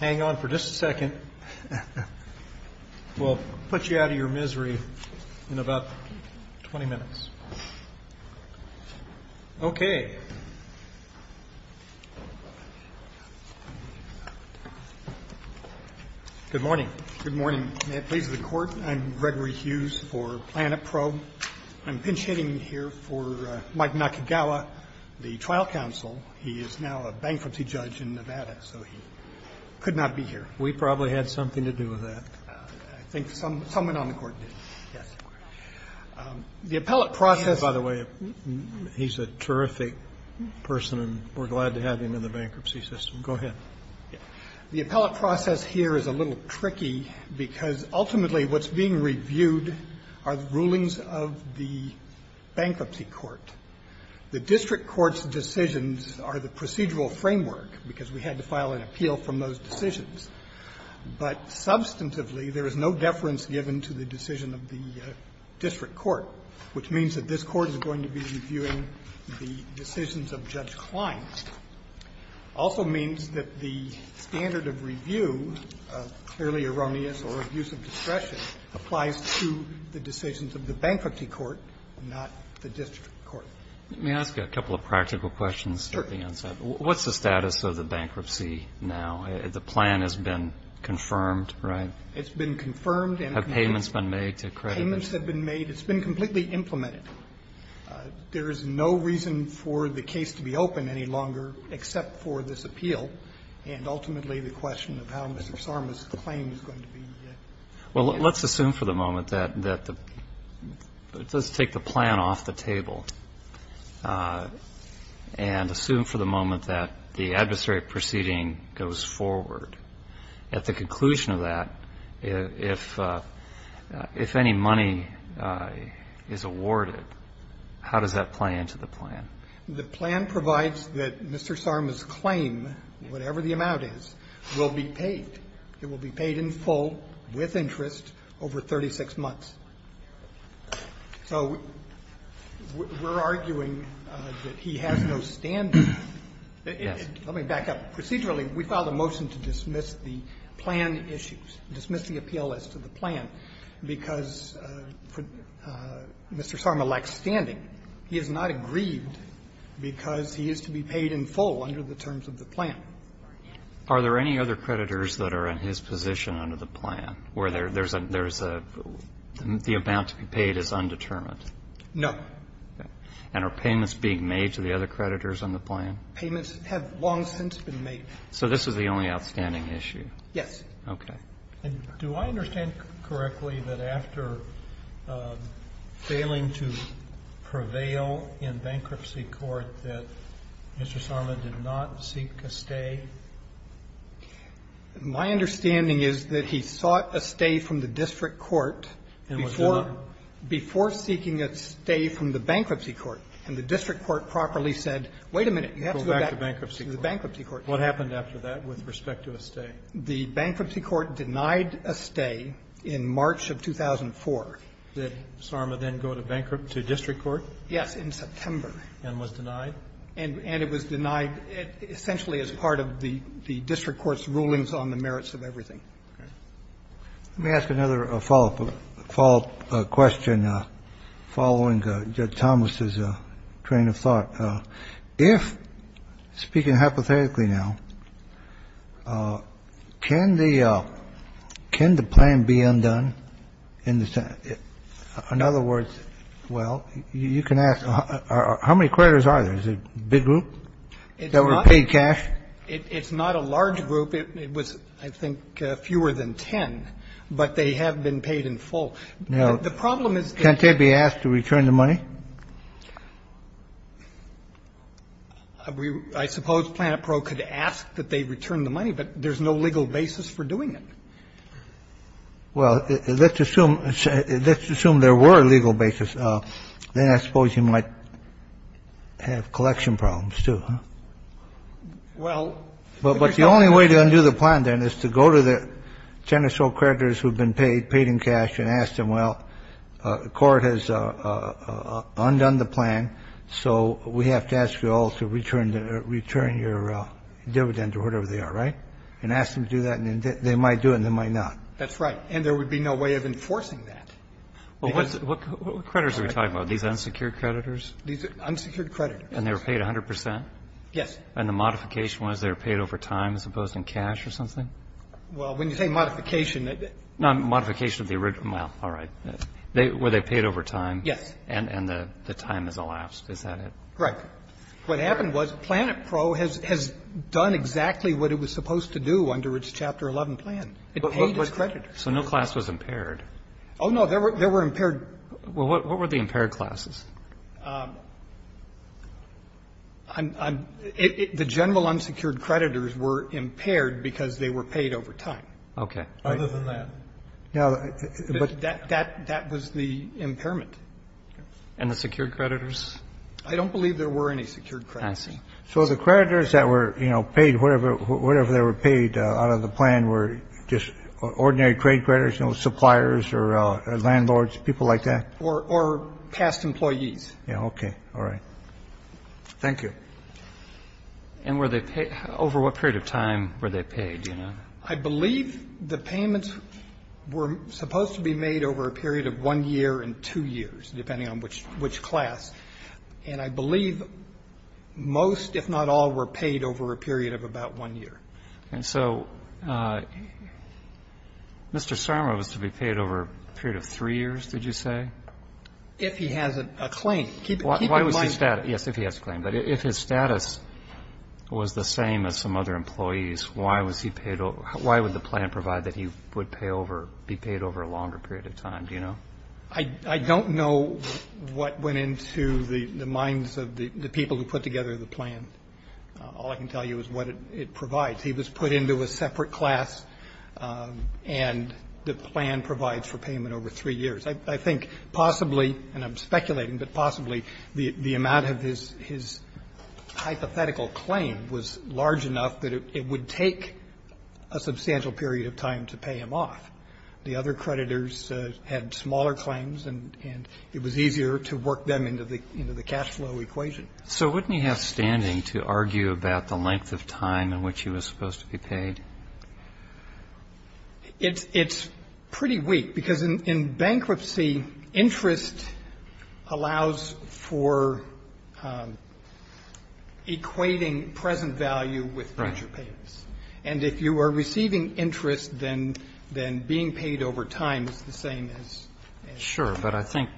Hang on for just a second. We'll put you out of your misery in about 20 minutes. Okay. Good morning. Good morning. May it please the Court, I'm Gregory Hughes for Planet Probe. I'm pinch-hitting here for Mike Nakagawa, the trial counsel. He is now a bankruptcy judge in Nevada, so he could not be here. We probably had something to do with that. I think someone on the Court did. Yes. The appellate process... By the way, he's a terrific person, and we're glad to have him in the bankruptcy system. Go ahead. The appellate process here is a little tricky because ultimately what's being reviewed are the rulings of the bankruptcy court. The district court's decisions are the procedural framework because we had to file an appeal from those decisions. But substantively, there is no deference given to the decision of the district court, which means that this Court is going to be reviewing the decisions of Judge Klein. It also means that the standard of review, clearly erroneous or abuse of discretion, applies to the decisions of the bankruptcy court, not the district court. Let me ask you a couple of practical questions. Sure. What's the status of the bankruptcy now? The plan has been confirmed, right? It's been confirmed. Have payments been made to creditors? Payments have been made. It's been completely implemented. There is no reason for the case to be open any longer except for this appeal and ultimately the question of how Mr. Sarma's claim is going to be reviewed. Well, let's assume for the moment that the – let's take the plan off the table and assume for the moment that the adversary proceeding goes forward. At the conclusion of that, if any money is awarded, how does that play into the plan? The plan provides that Mr. Sarma's claim, whatever the amount is, will be paid. It will be paid in full with interest over 36 months. So we're arguing that he has no standard. Yes. Let me back up. Procedurally, we filed a motion to dismiss the plan issues, dismiss the appeal as to the plan, because Mr. Sarma lacks standing. He is not aggrieved because he is to be paid in full under the terms of the plan. Are there any other creditors that are in his position under the plan where there is a – the amount to be paid is undetermined? No. Okay. And are payments being made to the other creditors on the plan? Payments have long since been made. So this is the only outstanding issue? Yes. Okay. And do I understand correctly that after failing to prevail in bankruptcy court that Mr. Sarma did not seek a stay? My understanding is that he sought a stay from the district court before seeking a stay from the bankruptcy court, and the district court properly said, wait a minute, you have to go back to the bankruptcy court. What happened after that with respect to a stay? The bankruptcy court denied a stay in March of 2004. Did Sarma then go to district court? Yes, in September. And was denied? And it was denied essentially as part of the district court's rulings on the merits of everything. Okay. Let me ask another follow-up question following Judge Thomas's train of thought. If, speaking hypothetically now, can the plan be undone in the Senate? In other words, well, you can ask, how many creditors are there? Is it a big group that were paid cash? It's not a large group. It was, I think, fewer than 10, but they have been paid in full. Now, can't they be asked to return the money? I suppose Planet Pro could ask that they return the money, but there's no legal basis for doing it. Well, let's assume there were a legal basis. Then I suppose you might have collection problems, too, huh? Well, but the only way to undo the plan then is to go to the 10 or so creditors who have been paid, paid in cash, and ask them, well, the court has undone the plan, so we have to ask you all to return your dividend or whatever they are, right? And ask them to do that, and they might do it and they might not. That's right. And there would be no way of enforcing that. Well, what creditors are we talking about? These unsecured creditors? These unsecured creditors. And they were paid 100 percent? Yes. And the modification was they were paid over time as opposed to in cash or something? Well, when you say modification, that they were paid over time. And the time has elapsed. Is that it? Correct. What happened was PlanetPro has done exactly what it was supposed to do under its Chapter 11 plan. It paid its creditors. So no class was impaired? Oh, no. There were impaired. Well, what were the impaired classes? The general unsecured creditors were impaired because they were paid over time. Okay. Other than that. That was the impairment. And the secured creditors? I don't believe there were any secured creditors. I see. So the creditors that were, you know, paid whatever they were paid out of the plan were just ordinary creditors, you know, suppliers or landlords, people like that? Or past employees. Okay. All right. Thank you. And over what period of time were they paid? I believe the payments were supposed to be made over a period of one year and two years, depending on which class. And I believe most, if not all, were paid over a period of about one year. And so Mr. Sarma was to be paid over a period of three years, did you say? If he has a claim. Yes, if he has a claim. But if his status was the same as some other employees, why would the plan provide that he would be paid over a longer period of time? Do you know? I don't know what went into the minds of the people who put together the plan. All I can tell you is what it provides. He was put into a separate class, and the plan provides for payment over three years. I think possibly, and I'm speculating, but possibly the amount of his hypothetical claim was large enough that it would take a substantial period of time to pay him off. The other creditors had smaller claims, and it was easier to work them into the cash flow equation. So wouldn't he have standing to argue about the length of time in which he was supposed to be paid? It's pretty weak, because in bankruptcy, interest allows for equating present value with major payments. Right. And if you are receiving interest, then being paid over time is the same as interest. Sure. But I think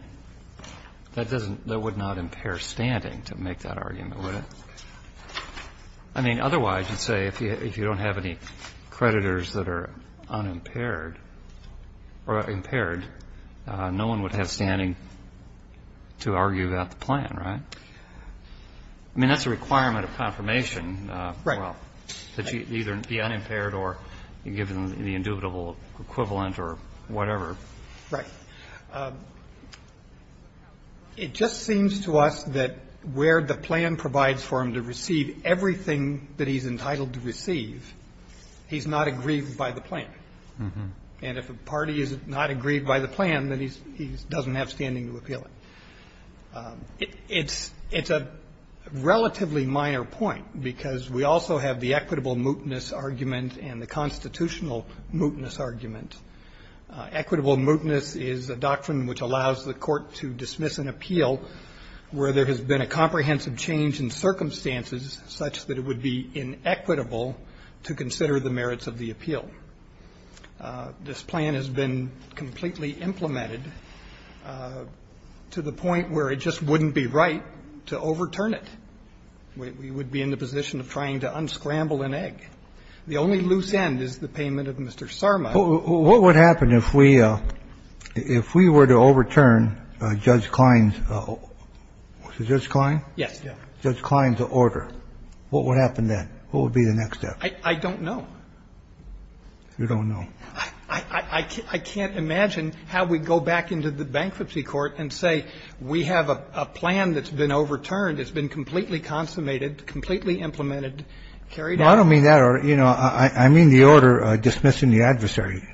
that doesn't, that would not impair standing to make that argument, would it? I mean, otherwise, you'd say if you don't have any creditors that are unimpaired or impaired, no one would have standing to argue about the plan, right? I mean, that's a requirement of confirmation. Right. Well, that you either be unimpaired or you give them the indubitable equivalent or whatever. Right. It just seems to us that where the plan provides for him to receive everything that he's entitled to receive, he's not aggrieved by the plan. And if a party is not aggrieved by the plan, then he doesn't have standing to appeal It's a relatively minor point, because we also have the equitable mootness argument and the constitutional mootness argument. Equitable mootness is a doctrine which allows the court to dismiss an appeal where there has been a comprehensive change in circumstances such that it would be inequitable to consider the merits of the appeal. This plan has been completely implemented to the point where it just wouldn't be right to overturn it. We would be in the position of trying to unscramble an egg. The only loose end is the payment of Mr. Sarma. What would happen if we were to overturn Judge Klein's order? What would happen then? What would be the next step? I don't know. You don't know. I can't imagine how we'd go back into the bankruptcy court and say we have a plan that's been overturned, it's been completely consummated, completely implemented, carried out. No, I don't mean that. You know, I mean the order dismissing the adversary.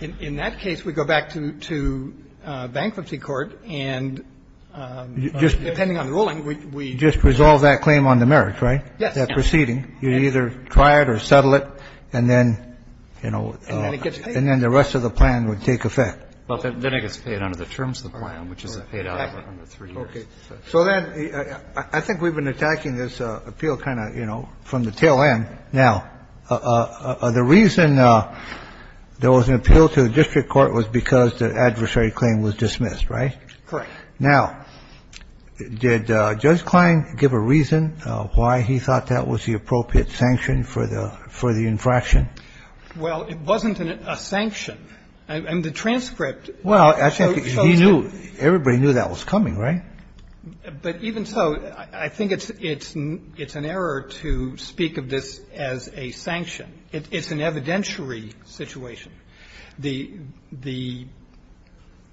In that case, we go back to bankruptcy court and just depending on the ruling, we just resolve that claim on the merits, right? Yes. So that's the only way to resolve the case. So you would have to do that proceeding. You would either try it or settle it, and then, you know, and then the rest of the plan would take effect. Well, then it gets paid under the terms of the plan, which is it paid out under three years. So then I think we've been attacking this appeal kind of, you know, from the tail Now, the reason there was an appeal to the district court was because the adversary claim was dismissed, right? Correct. Now, did Judge Klein give a reason why he thought that was the appropriate sanction for the infraction? Well, it wasn't a sanction. And the transcript shows that. Well, I think he knew, everybody knew that was coming, right? But even so, I think it's an error to speak of this as a sanction. It's an evidentiary situation. The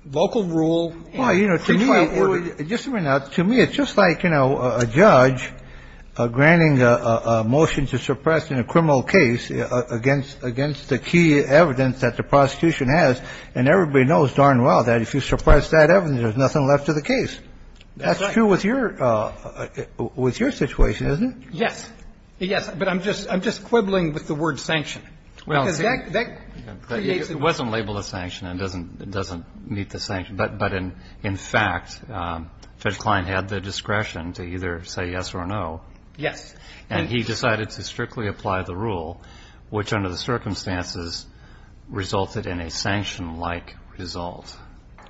local rule and the trial order. Well, you know, to me it's just like, you know, a judge granting a motion to suppress in a criminal case against the key evidence that the prosecution has. And everybody knows darn well that if you suppress that evidence, there's nothing left of the case. That's true with your situation, isn't it? Yes. Yes. But I'm just quibbling with the word sanction. Well, it wasn't labeled a sanction. It doesn't meet the sanction. But in fact, Judge Klein had the discretion to either say yes or no. Yes. And he decided to strictly apply the rule, which under the circumstances resulted in a sanction-like result.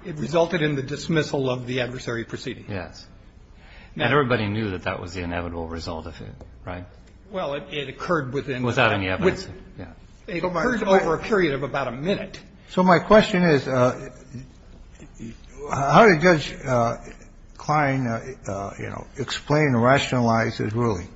It resulted in the dismissal of the adversary proceeding. Yes. And everybody knew that that was the inevitable result of it, right? Well, it occurred within the time. Without any evidence. It occurred over a period of about a minute. So my question is, how did Judge Klein, you know, explain or rationalize his ruling?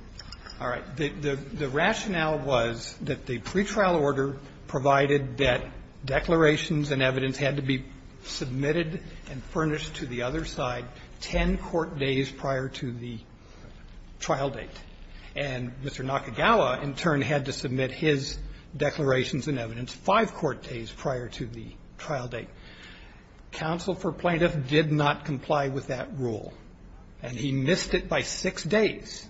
All right. The rationale was that the pretrial order provided that declarations and evidence had to be submitted and furnished to the other side 10 court days prior to the trial date. And Mr. Nakagawa, in turn, had to submit his declarations and evidence 5 court days prior to the trial date. Counsel for plaintiff did not comply with that rule. And he missed it by 6 days.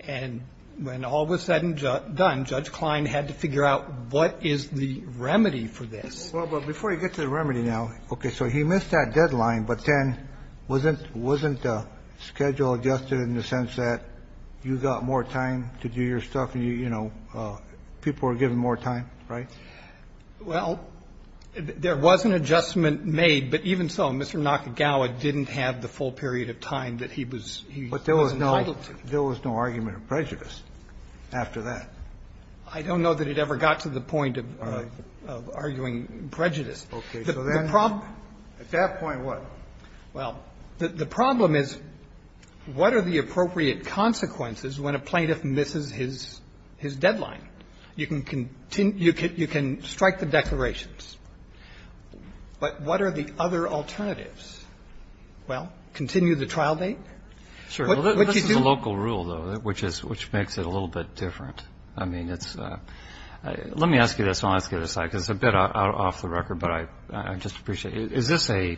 And when all was said and done, Judge Klein had to figure out what is the remedy for this. Well, but before you get to the remedy now, okay, so he missed that deadline, but then wasn't the schedule adjusted in the sense that you got more time to do your stuff and, you know, people were given more time, right? Well, there was an adjustment made. But even so, Mr. Nakagawa didn't have the full period of time that he was entitled to. But there was no argument of prejudice after that. I don't know that it ever got to the point of arguing prejudice. The problem at that point was? Well, the problem is what are the appropriate consequences when a plaintiff misses his deadline? You can strike the declarations, but what are the other alternatives? Well, continue the trial date? What you do? I mean, it's a local rule, though, which makes it a little bit different. I mean, it's let me ask you this. I'll ask you this. It's a bit off the record, but I just appreciate it. Is this a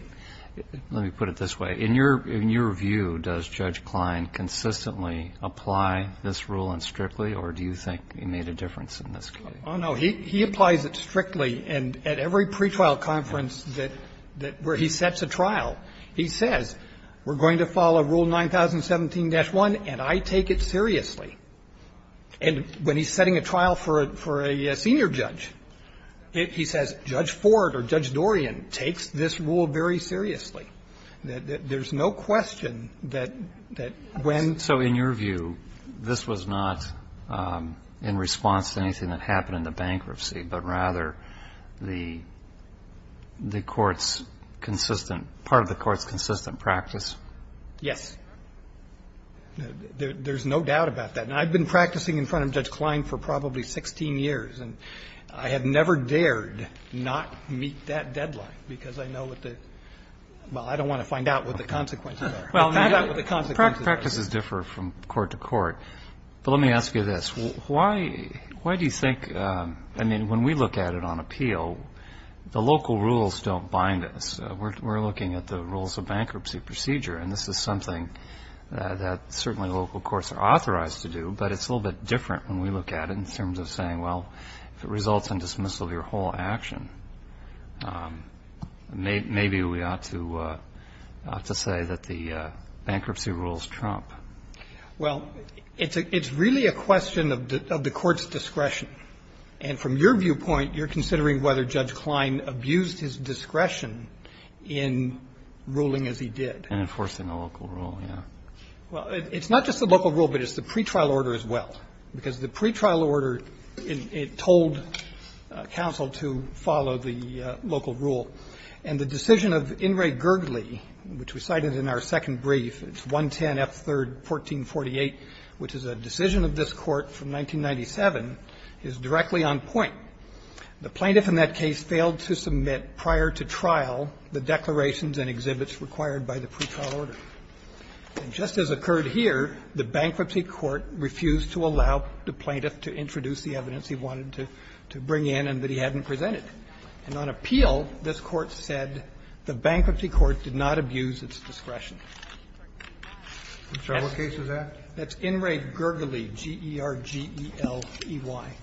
let me put it this way. In your view, does Judge Klein consistently apply this rule and strictly or do you think he made a difference in this case? Oh, no. He applies it strictly and at every pretrial conference where he sets a trial, he says we're going to follow Rule 9017-1 and I take it seriously. And when he's setting a trial for a senior judge, he says Judge Ford or Judge Dorian takes this rule very seriously. There's no question that when. So in your view, this was not in response to anything that happened in the bankruptcy, but rather the court's consistent, part of the court's consistent practice? Yes. There's no doubt about that. And I've been practicing in front of Judge Klein for probably 16 years and I have never dared not meet that deadline because I know what the, well, I don't want to find out what the consequences are. Well, practices differ from court to court, but let me ask you this. Why do you think, I mean, when we look at it on appeal, the local rules don't bind us. We're looking at the rules of bankruptcy procedure and this is something that certainly local courts are authorized to do, but it's a little bit different when we look at it in terms of saying, well, if it results in dismissal of your whole action, maybe we ought to say that the bankruptcy rules trump. Well, it's really a question of the court's discretion. And from your viewpoint, you're considering whether Judge Klein abused his discretion in ruling as he did. And enforcing a local rule, yeah. Well, it's not just the local rule, but it's the pretrial order as well. Because the pretrial order, it told counsel to follow the local rule. And the decision of In re Gergly, which we cited in our second brief, it's 110 F. 3rd, 1448, which is a decision of this Court from 1997, is directly on point. The plaintiff in that case failed to submit prior to trial the declarations and exhibits required by the pretrial order. And just as occurred here, the bankruptcy court refused to allow the plaintiff to introduce the evidence he wanted to bring in and that he hadn't presented. And on appeal, this Court said the bankruptcy court did not abuse its discretion. I'm sorry, what case was that? That's In re Gergly, G-E-R-G-E-L-E-Y.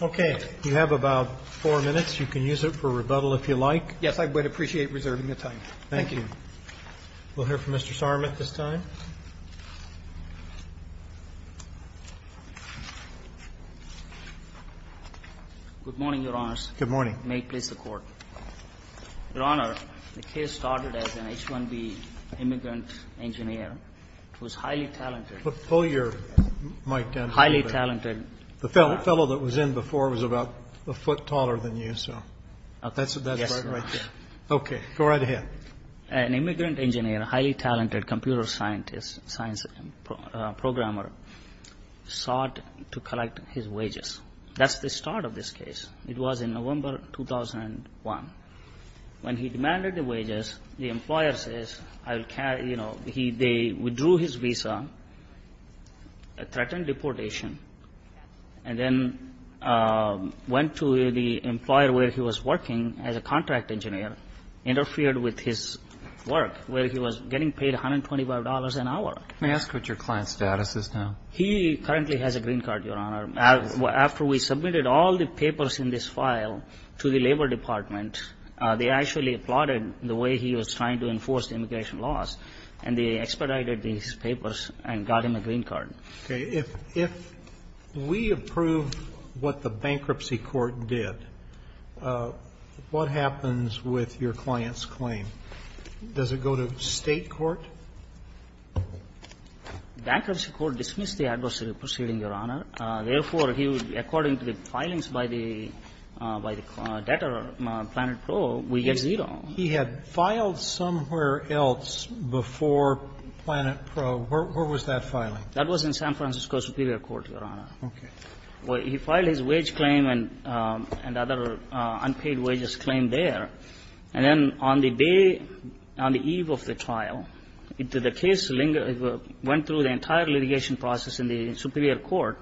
Okay. You have about four minutes. You can use it for rebuttal if you like. Yes, I would appreciate reserving the time. Thank you. We'll hear from Mr. Sarmat this time. Good morning, Your Honors. Good morning. May it please the Court. Your Honor, the case started as an H-1B immigrant engineer who was highly talented. Pull your mic down a little bit. Highly talented. The fellow that was in before was about a foot taller than you, so that's right there. Okay. Go right ahead. An immigrant engineer, highly talented computer scientist, science programmer, sought to collect his wages. That's the start of this case. It was in November 2001. When he demanded the wages, the employer says, I will carry, you know, he they withdrew his visa, threatened deportation, and then went to the employer where he was working as a contract engineer, interfered with his work, where he was getting paid $125 an hour. May I ask what your client's status is now? He currently has a green card, Your Honor. After we submitted all the papers in this file to the Labor Department, they actually plotted the way he was trying to enforce the immigration laws, and they expedited these papers and got him a green card. Okay. If we approve what the bankruptcy court did, what happens with your client's claim? Does it go to State court? Bankruptcy court dismissed the adversary proceeding, Your Honor. Therefore, he would, according to the filings by the debtor, Planet Pro, we get zero. He had filed somewhere else before Planet Pro. Where was that filing? That was in San Francisco Superior Court, Your Honor. Okay. He filed his wage claim and other unpaid wages claim there. And then on the day, on the eve of the trial, the case went through the entire litigation process in the Superior Court.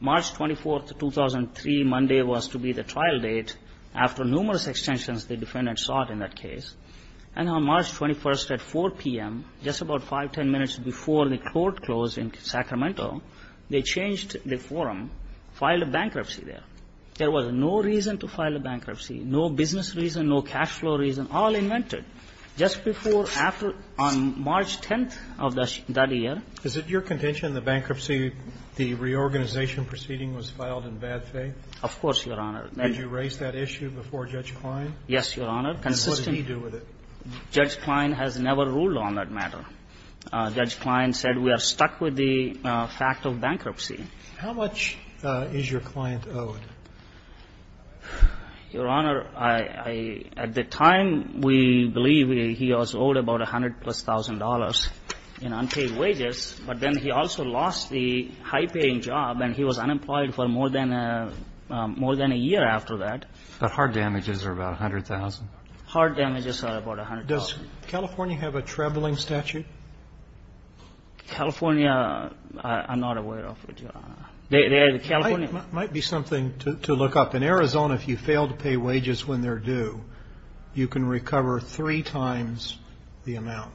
March 24, 2003, Monday, was to be the trial date. After numerous extensions, the defendant sought in that case. And on March 21st at 4 p.m., just about 5, 10 minutes before the court closed in Sacramento, they changed the forum, filed a bankruptcy there. There was no reason to file a bankruptcy, no business reason, no cash flow reason. All invented just before, after, on March 10th of that year. Is it your contention the bankruptcy, the reorganization proceeding was filed in bad faith? Of course, Your Honor. Did you raise that issue before Judge Klein? Yes, Your Honor. And what did he do with it? Judge Klein has never ruled on that matter. Judge Klein said we are stuck with the fact of bankruptcy. How much is your client owed? Your Honor, I at the time, we believe he was owed about $100,000 plus in unpaid wages. But then he also lost the high-paying job and he was unemployed for more than a year after that. But hard damages are about $100,000? Hard damages are about $100,000. Does California have a trebling statute? California, I'm not aware of it, Your Honor. There is a California. It might be something to look up. In Arizona, if you fail to pay wages when they're due, you can recover three times the amount.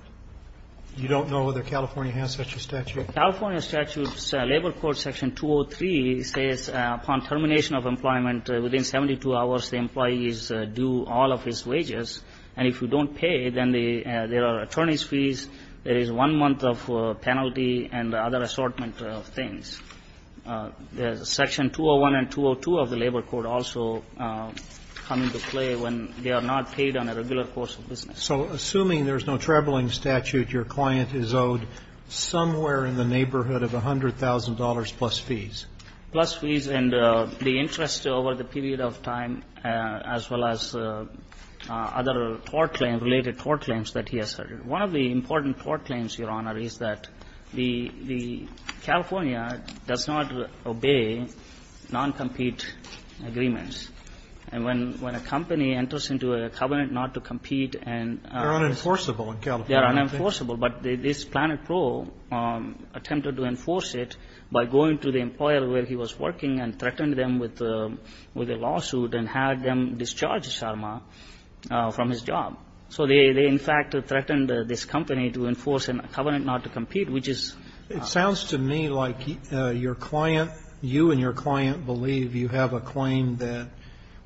You don't know whether California has such a statute? California statute, Labor Court Section 203, says upon termination of employment within 72 hours, the employee is due all of his wages. And if you don't pay, then there are attorney's fees. There is one month of penalty and other assortment of things. Section 201 and 202 of the Labor Court also come into play when they are not paid on a regular course of business. So assuming there's no trebling statute, your client is owed somewhere in the neighborhood of $100,000 plus fees? Plus fees and the interest over the period of time, as well as other tort claims, related tort claims that he asserted. One of the important tort claims, Your Honor, is that the California does not obey non-compete agreements. And when a company enters into a covenant not to compete and they're unenforceable in California. They threatened to enforce it by going to the employer where he was working and threatened them with a lawsuit and had them discharge Sharma from his job. So they, in fact, threatened this company to enforce a covenant not to compete, which is. It sounds to me like your client, you and your client believe you have a claim that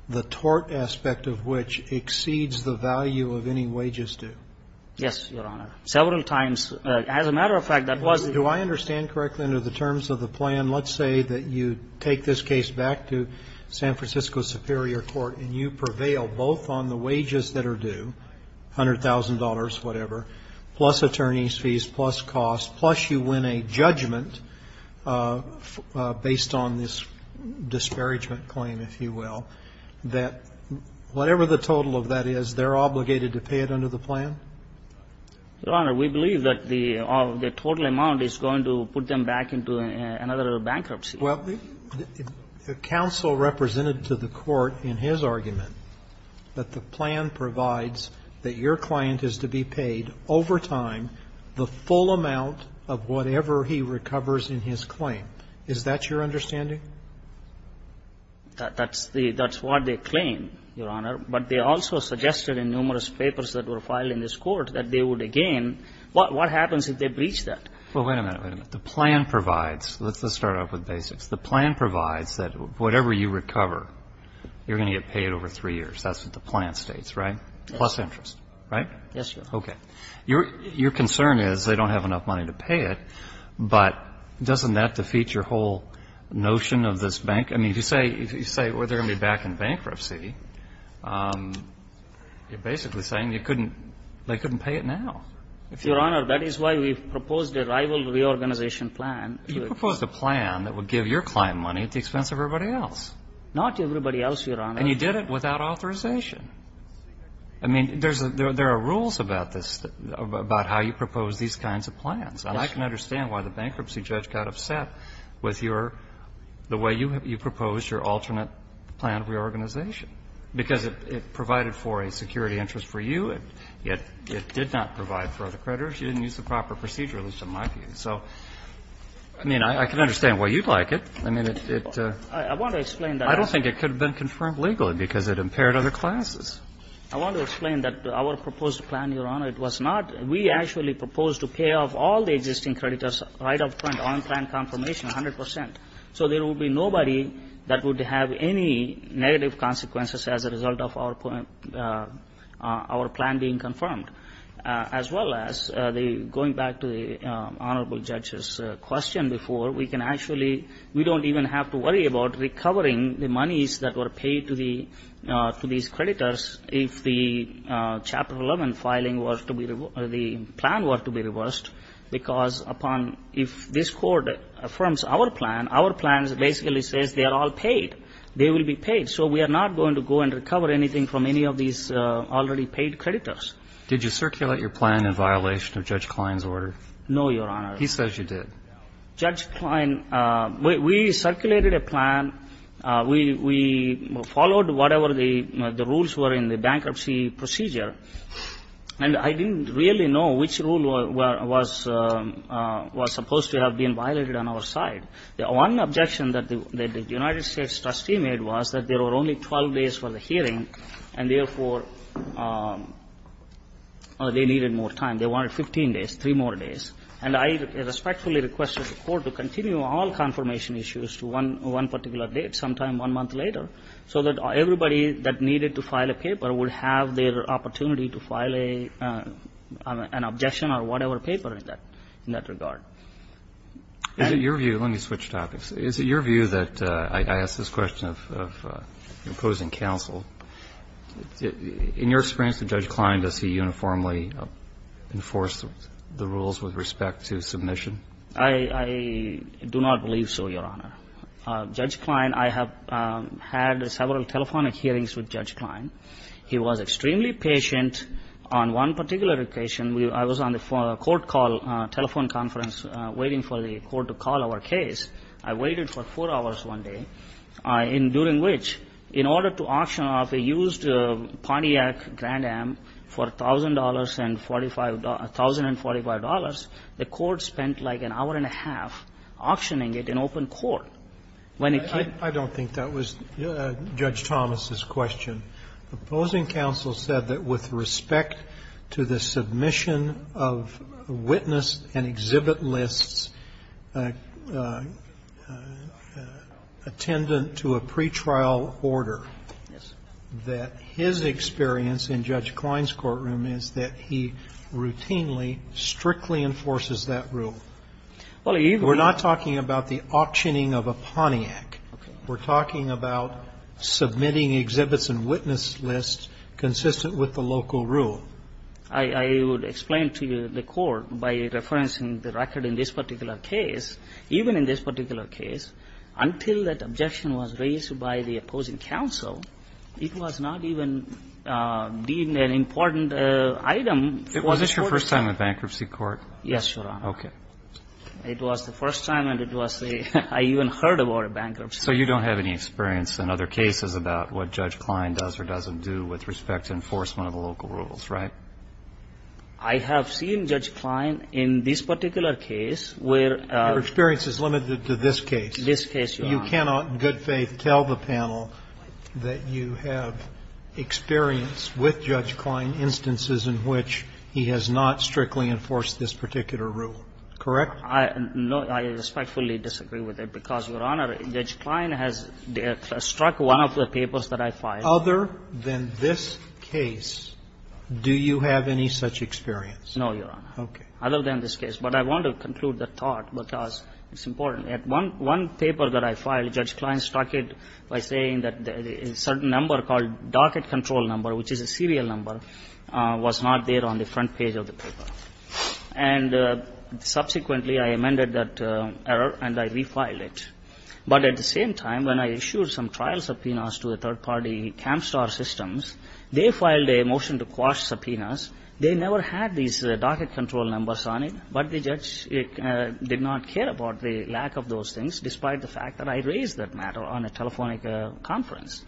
the tort aspect of which exceeds the value of any wages due. Yes, Your Honor. Several times. As a matter of fact, that was. Do I understand correctly under the terms of the plan? Let's say that you take this case back to San Francisco Superior Court and you prevail both on the wages that are due, $100,000, whatever, plus attorney's fees, plus cost, plus you win a judgment based on this disparagement claim, if you will, that whatever the total of that is, they're obligated to pay it under the plan? Your Honor, we believe that the total amount is going to put them back into another bankruptcy. Well, the counsel represented to the Court in his argument that the plan provides that your client is to be paid over time the full amount of whatever he recovers in his claim. Is that your understanding? That's what they claim, Your Honor. But they also suggested in numerous papers that were filed in this Court that they would, again, what happens if they breach that? Well, wait a minute, wait a minute. The plan provides, let's just start off with basics. The plan provides that whatever you recover, you're going to get paid over 3 years. That's what the plan states, right? Yes. Plus interest, right? Yes, Your Honor. Okay. Your concern is they don't have enough money to pay it, but doesn't that defeat your whole notion of this bank? I mean, if you say they're going to be back in bankruptcy, you're basically saying they couldn't pay it now. Your Honor, that is why we proposed a rival reorganization plan. You proposed a plan that would give your client money at the expense of everybody else. Not everybody else, Your Honor. And you did it without authorization. I mean, there are rules about this, about how you propose these kinds of plans. And I can understand why the bankruptcy judge got upset with your – the way you proposed your alternate plan of reorganization, because it provided for a security interest for you. It did not provide for other creditors. You didn't use the proper procedure, at least in my view. So, I mean, I can understand why you'd like it. I mean, it's a – I want to explain that. I don't think it could have been confirmed legally because it impaired other classes. I want to explain that our proposed plan, Your Honor, it was not – we actually proposed to pay off all the existing creditors right up front, on-plan confirmation, 100 percent. So there would be nobody that would have any negative consequences as a result of our plan being confirmed. As well as the – going back to the Honorable Judge's question before, we can actually – we don't even have to worry about recovering the monies that were paid to the – to the plan were to be reversed, because upon – if this Court affirms our plan, our plan basically says they are all paid. They will be paid. So we are not going to go and recover anything from any of these already paid creditors. Did you circulate your plan in violation of Judge Klein's order? No, Your Honor. He says you did. Judge Klein – we circulated a plan. We followed whatever the rules were in the bankruptcy procedure. And I didn't really know which rule was – was supposed to have been violated on our side. One objection that the United States trustee made was that there were only 12 days for the hearing, and therefore, they needed more time. They wanted 15 days, three more days. And I respectfully requested the Court to continue all confirmation issues to one – one particular date, sometime one month later, so that everybody that needed to file a paper would have their opportunity to file a – an objection or whatever paper in that – in that regard. Is it your view – let me switch topics. Is it your view that – I ask this question of imposing counsel. In your experience with Judge Klein, does he uniformly enforce the rules with respect to submission? I – I do not believe so, Your Honor. Judge Klein – I have had several telephonic hearings with Judge Klein. He was extremely patient on one particular occasion. I was on the court call – telephone conference waiting for the Court to call our case. I waited for four hours one day, during which, in order to auction off a used Pontiac Grand Am for $1,000 and $45 – $1,045, the Court spent like an hour and a half auctioning it off. And I – I – I don't think that was Judge Thomas's question. Imposing counsel said that with respect to the submission of witness and exhibit lists attendant to a pretrial order, that his experience in Judge Klein's courtroom is that he routinely, strictly enforces that rule. Well, even – We're not talking about the auctioning of a Pontiac. Okay. We're talking about submitting exhibits and witness lists consistent with the local rule. I – I would explain to you, the Court, by referencing the record in this particular case, even in this particular case, until that objection was raised by the opposing counsel, it was not even deemed an important item for the Court. Was this your first time in bankruptcy court? Yes, Your Honor. Okay. It was the first time, and it was the – I even heard about a bankruptcy. So you don't have any experience in other cases about what Judge Klein does or doesn't do with respect to enforcement of the local rules, right? I have seen Judge Klein in this particular case where – Your experience is limited to this case. This case, Your Honor. You cannot, in good faith, tell the panel that you have experience with Judge Klein in instances in which he has not strictly enforced this particular rule. Correct? I – no, I respectfully disagree with it, because, Your Honor, Judge Klein has struck one of the papers that I filed. Other than this case, do you have any such experience? No, Your Honor. Okay. Other than this case. But I want to conclude the thought, because it's important. One – one paper that I filed, Judge Klein struck it by saying that a certain number called docket control number, which is a serial number, was not there on the front page of the paper. And subsequently, I amended that error, and I refiled it. But at the same time, when I issued some trial subpoenas to the third-party camp star systems, they filed a motion to quash subpoenas. They never had these docket control numbers on it, but the judge did not care about the lack of those things, despite the fact that I raised that matter on a telephonic conference.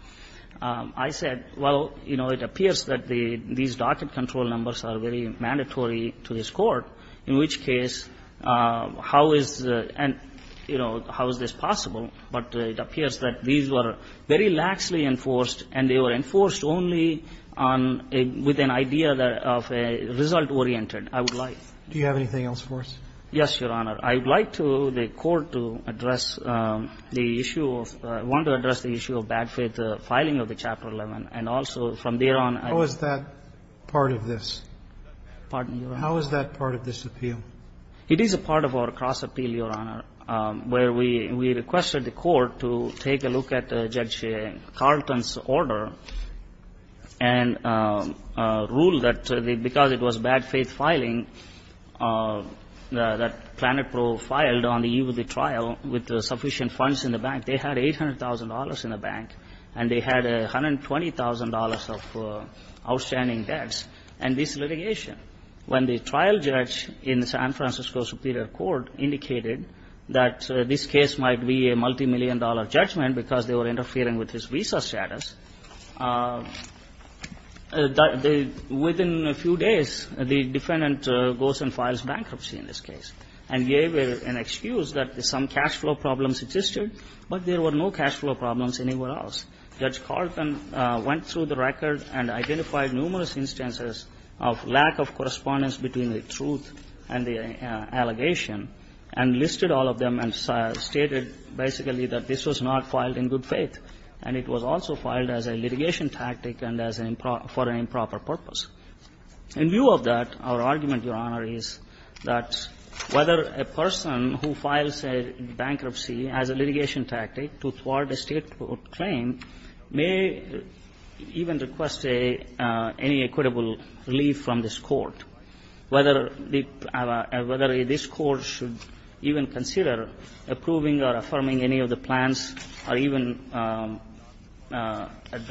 I said, well, you know, it appears that the – these docket control numbers are very mandatory to this Court. In which case, how is – and, you know, how is this possible? But it appears that these were very laxly enforced, and they were enforced only on a – with an idea of a result-oriented, I would like. Do you have anything else for us? Yes, Your Honor. I would like to – the Court to address the issue of – I want to address the issue of bad faith filing of the Chapter 11, and also from there on. How is that part of this? Pardon me, Your Honor. How is that part of this appeal? It is a part of our cross-appeal, Your Honor, where we requested the Court to take a look at Judge Carlton's order and rule that because it was bad faith filing, that Plano Pro filed on the eve of the trial with sufficient funds in the bank. They had $800,000 in the bank, and they had $120,000 of outstanding debts. And this litigation, when the trial judge in the San Francisco Superior Court indicated that this case might be a multimillion-dollar judgment because they were interfering with his visa status, they – within a few days, the defendant goes and files bankruptcy in this case and gave an excuse that some cash flow problems existed, but there were no cash flow problems anywhere else. Judge Carlton went through the record and identified numerous instances of lack of correspondence between the truth and the allegation, and listed all of them and stated basically that this was not filed in good faith, and it was also filed as a litigation tactic and as an improper – for an improper purpose. In view of that, our argument, Your Honor, is that whether a person who files a bankruptcy as a litigation tactic to thwart a State court claim may even request a – any equitable relief from this Court, whether the – whether this Court should even consider approving or affirming any of the plans or even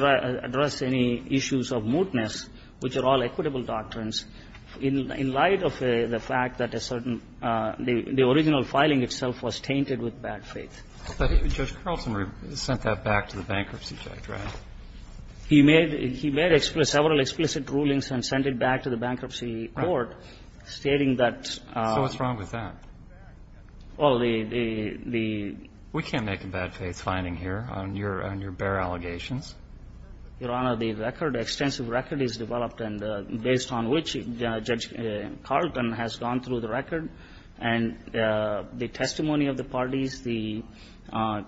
address any issues of mootness, which are all equitable doctrines, in light of the fact that a certain – the original filing itself was tainted with bad faith. But Judge Carlton sent that back to the bankruptcy judge, right? He made – he made several explicit rulings and sent it back to the bankruptcy court, stating that – So what's wrong with that? Well, the – the – We can't make a bad faith finding here on your – on your bare allegations. Your Honor, the record – extensive record is developed, and based on which, Judge Carlton has gone through the record and the testimony of the parties, the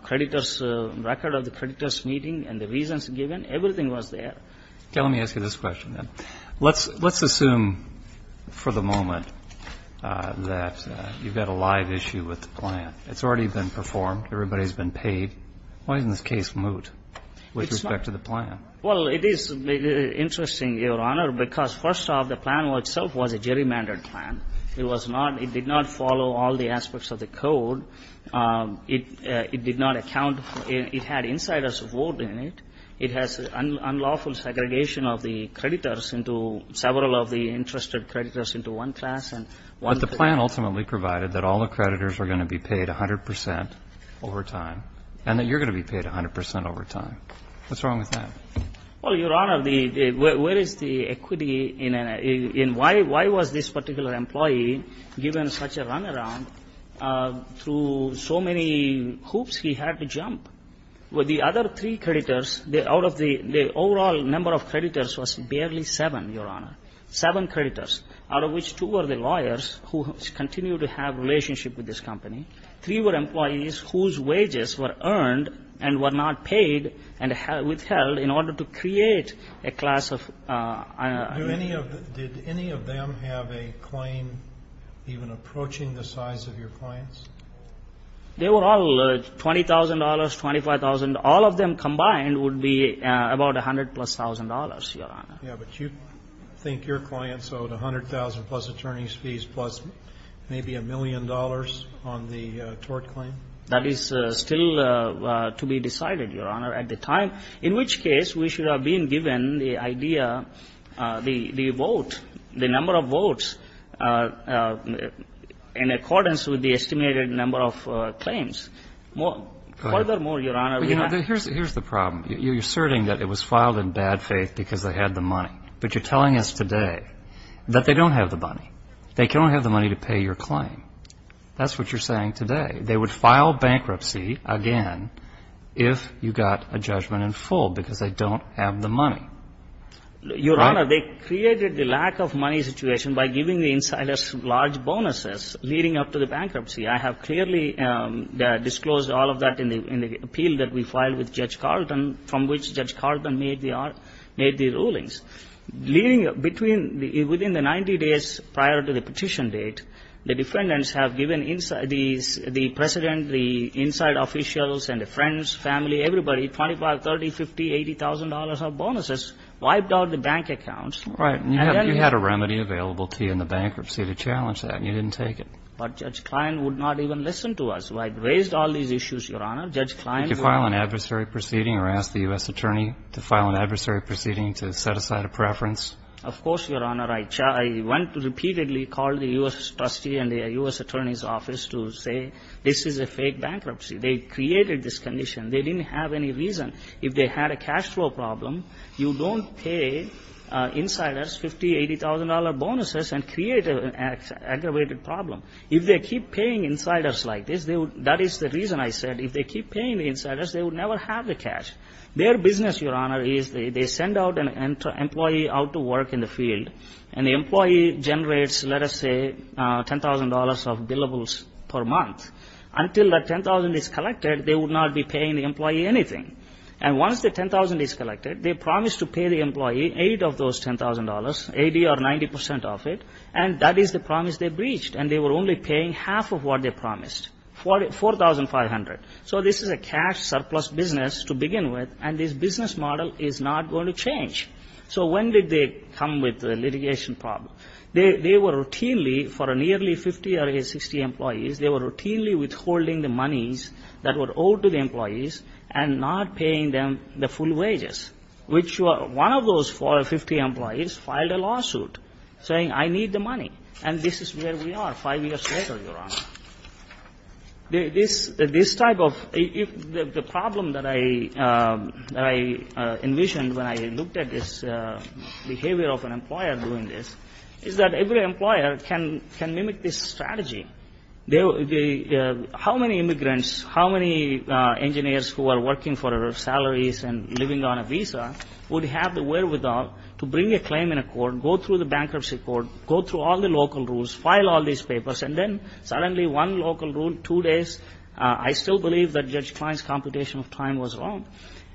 creditors' – record of the creditors' meeting and the reasons given. Everything was there. Okay. Let me ask you this question, then. Let's – let's assume for the moment that you've got a live issue with the plan. It's already been performed. Everybody's been paid. Why isn't this case moot? It's not – With respect to the plan. Well, it is interesting, Your Honor, because first off, the plan itself was a gerrymandered plan. It was not – it did not follow all the aspects of the code. It – it did not account – it had insiders' vote in it. It has unlawful segregation of the creditors into – several of the interested creditors into one class and one – But the plan ultimately provided that all the creditors are going to be paid 100 percent over time, and that you're going to be paid 100 percent over time. What's wrong with that? Well, Your Honor, the – where is the equity in a – in why – why was this particular employee given such a runaround through so many hoops he had to jump? The other three creditors, out of the – the overall number of creditors was barely seven, Your Honor, seven creditors, out of which two were the lawyers who continue to have relationship with this company. Three were employees whose wages were earned and were not paid and withheld in order to create a class of – Do any of – did any of them have a claim even approaching the size of your clients? They were all $20,000, $25,000. All of them combined would be about $100,000-plus, Your Honor. Yeah, but you think your clients owed $100,000-plus attorney's fees, plus maybe a million dollars on the tort claim? That is still to be decided, Your Honor, at the time, in which case we should have been given the idea – the vote, the number of votes in accordance with the estimated number of claims. Furthermore, Your Honor, we have – Here's the problem. You're asserting that it was filed in bad faith because they had the money, but you're telling us today that they don't have the money. They don't have the money to pay your claim. That's what you're saying today. They would file bankruptcy again if you got a judgment in full because they don't have the money. Your Honor, they created the lack of money situation by giving the insiders large bonuses leading up to the bankruptcy. I have clearly disclosed all of that in the appeal that we filed with Judge Carlton from which Judge Carlton made the rulings. Within the 90 days prior to the petition date, the defendants have given the President, the inside officials, and the friends, family, everybody, $25,000, $30,000, $50,000, $80,000 of bonuses, wiped out the bank accounts. Right. And you had a remedy available to you in the bankruptcy to challenge that, and you didn't take it. But Judge Klein would not even listen to us. I raised all these issues, Your Honor. Judge Klein would not. Did you file an adversary proceeding or ask the U.S. attorney to file an adversary proceeding to set aside a preference? Of course, Your Honor. I went repeatedly, called the U.S. trustee and the U.S. attorney's office to say this is a fake bankruptcy. They created this condition. They didn't have any reason. If they had a cash flow problem, you don't pay insiders $50,000, $80,000 bonuses and create an aggravated problem. If they keep paying insiders like this, that is the reason I said if they keep paying the insiders, they would never have the cash. Their business, Your Honor, is they send out an employee out to work in the field, and the employee generates, let us say, $10,000 of billables per month. Until that $10,000 is collected, they would not be paying the employee anything. And once the $10,000 is collected, they promise to pay the employee eight of those $10,000, 80 or 90 percent of it, and that is the promise they breached. And they were only paying half of what they promised, $4,500. So this is a cash surplus business to begin with, and this business model is not going to change. So when did they come with the litigation problem? They were routinely, for nearly 50 or 60 employees, they were routinely withholding the monies that were owed to the employees and not paying them the full wages, which one of those 50 employees filed a lawsuit saying I need the money, and this is where we are five years later, Your Honor. This type of, the problem that I envisioned when I looked at this behavior of an employer doing this is that every employer can mimic this strategy. How many immigrants, how many engineers who are working for salaries and living on a visa would have the wherewithal to bring a claim in a court, go through the bankruptcy court, go through all the local rules, file all these papers, and then suddenly one local rule, two days, I still believe that Judge Klein's computation of time was wrong,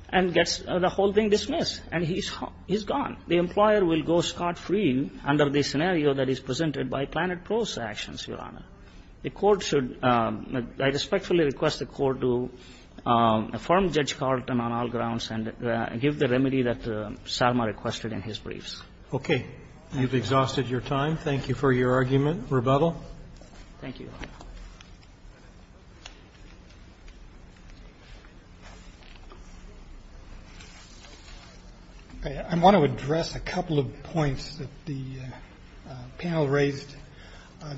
and gets the whole thing dismissed, and he's gone. The employer will go scot-free under the scenario that is presented by Planet Pro's actions, Your Honor. The court should, I respectfully request the court to affirm Judge Carlton on all grounds and give the remedy that Sarma requested in his briefs. Okay. You've exhausted your time. Thank you for your argument. Rebuttal? Thank you, Your Honor. I want to address a couple of points that the panel raised.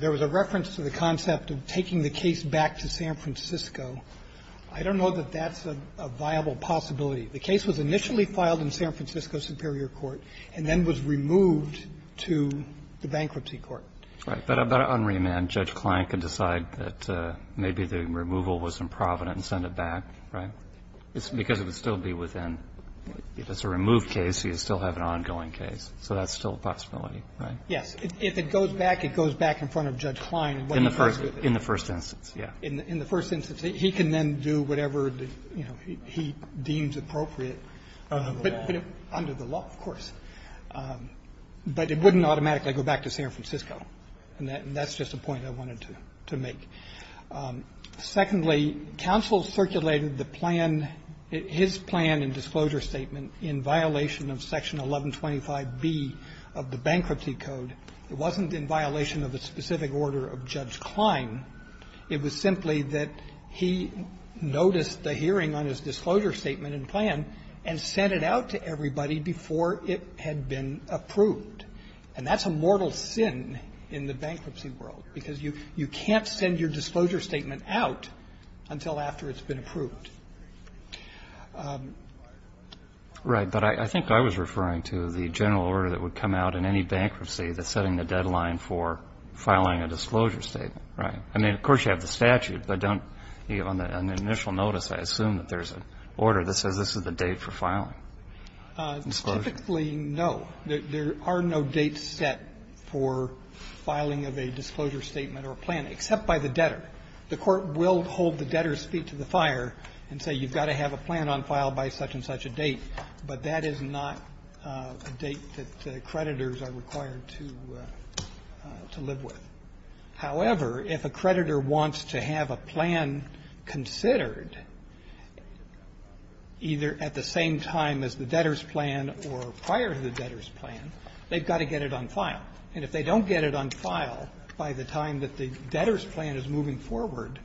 There was a reference to the concept of taking the case back to San Francisco. I don't know that that's a viable possibility. The case was initially filed in San Francisco Superior Court and then was removed to the bankruptcy court. Right. But on remand, Judge Klein can decide that maybe the removal was improvident and send it back, right? Because it would still be within, if it's a removed case, you still have an ongoing case. So that's still a possibility, right? Yes. If it goes back, it goes back in front of Judge Klein. In the first instance. In the first instance, yeah. But it wouldn't automatically go back to San Francisco. And that's just a point I wanted to make. Secondly, counsel circulated the plan, his plan and disclosure statement, in violation of Section 1125B of the Bankruptcy Code. It wasn't in violation of a specific order of Judge Klein. Code. But Judge Klein could have dismissed the hearing on his disclosure statement and plan and sent it out to everybody before it had been approved. And that's a mortal sin in the bankruptcy world. Because you can't send your disclosure statement out until after it's been approved. Right. But I think I was referring to the general order that would come out in any bankruptcy that's setting the deadline for filing a disclosure statement. Right. I mean, of course, you have the statute, but don't you, on the initial notice, I assume that there's an order that says this is the date for filing. Typically, no. There are no dates set for filing of a disclosure statement or plan, except by the debtor. The court will hold the debtor's feet to the fire and say you've got to have a plan on file by such and such a date. But that is not a date that creditors are required to live with. However, if a creditor wants to have a plan considered, either at the same time as the debtor's plan or prior to the debtor's plan, they've got to get it on file. And if they don't get it on file by the time that the debtor's plan is moving forward,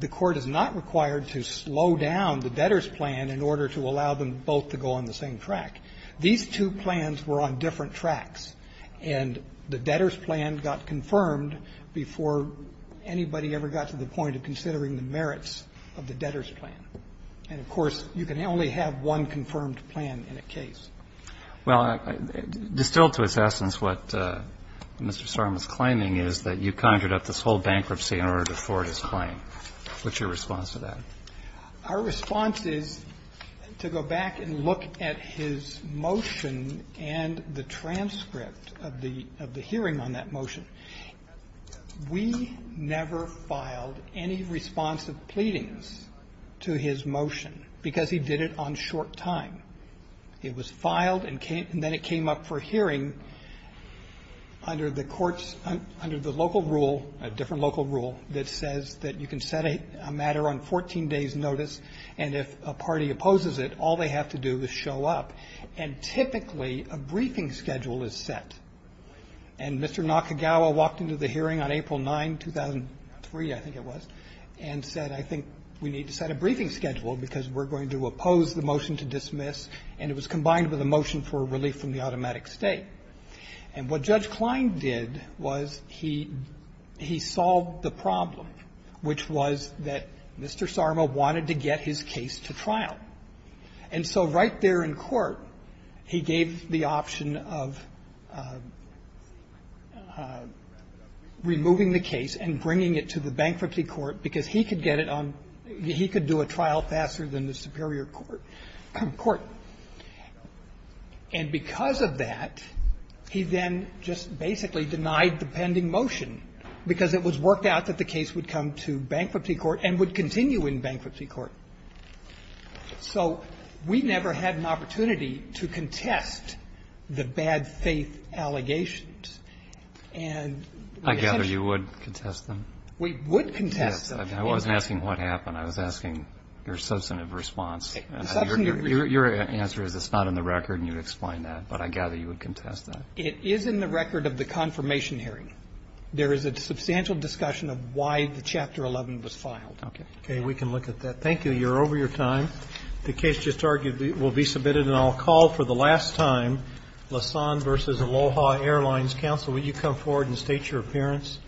the court is not required to slow down the debtor's plan in order to allow them both to go on the same track. These two plans were on different tracks. And the debtor's plan got confirmed before anybody ever got to the point of considering the merits of the debtor's plan. And, of course, you can only have one confirmed plan in a case. Well, distilled to its essence, what Mr. Sorum was claiming is that you conjured up this whole bankruptcy in order to forward his claim. What's your response to that? Our response is to go back and look at his motion and the transcript of the hearing on that motion. We never filed any responsive pleadings to his motion because he did it on short time. It was filed and then it came up for hearing under the courts, under the local rule, a different local rule that says that you can set a matter on 14 days' notice and if a party opposes it, all they have to do is show up. And typically, a briefing schedule is set. And Mr. Nakagawa walked into the hearing on April 9, 2003, I think it was, and said, I think we need to set a briefing schedule because we're going to oppose the motion to dismiss. And it was combined with a motion for relief from the automatic stay. And what Judge Klein did was he solved the problem, which was that Mr. Sarma wanted to get his case to trial. And so right there in court, he gave the option of removing the case and bringing it to the bankruptcy court because he could get it on, he could do a trial faster than the superior court. And because of that, he then just basically denied the pending motion because it was worked out that the case would come to bankruptcy court and would continue in bankruptcy court. So we never had an opportunity to contest the bad faith allegations. And essentially you would contest them. We would contest them. I wasn't asking what happened. I was asking your substantive response. Your answer is it's not in the record and you'd explain that, but I gather you would contest that. It is in the record of the confirmation hearing. There is a substantial discussion of why the Chapter 11 was filed. Okay. Okay. We can look at that. Thank you. You're over your time. The case just argued will be submitted and I'll call for the last time Lassonde v. Aloha Airlines. Counsel, will you come forward and state your appearance?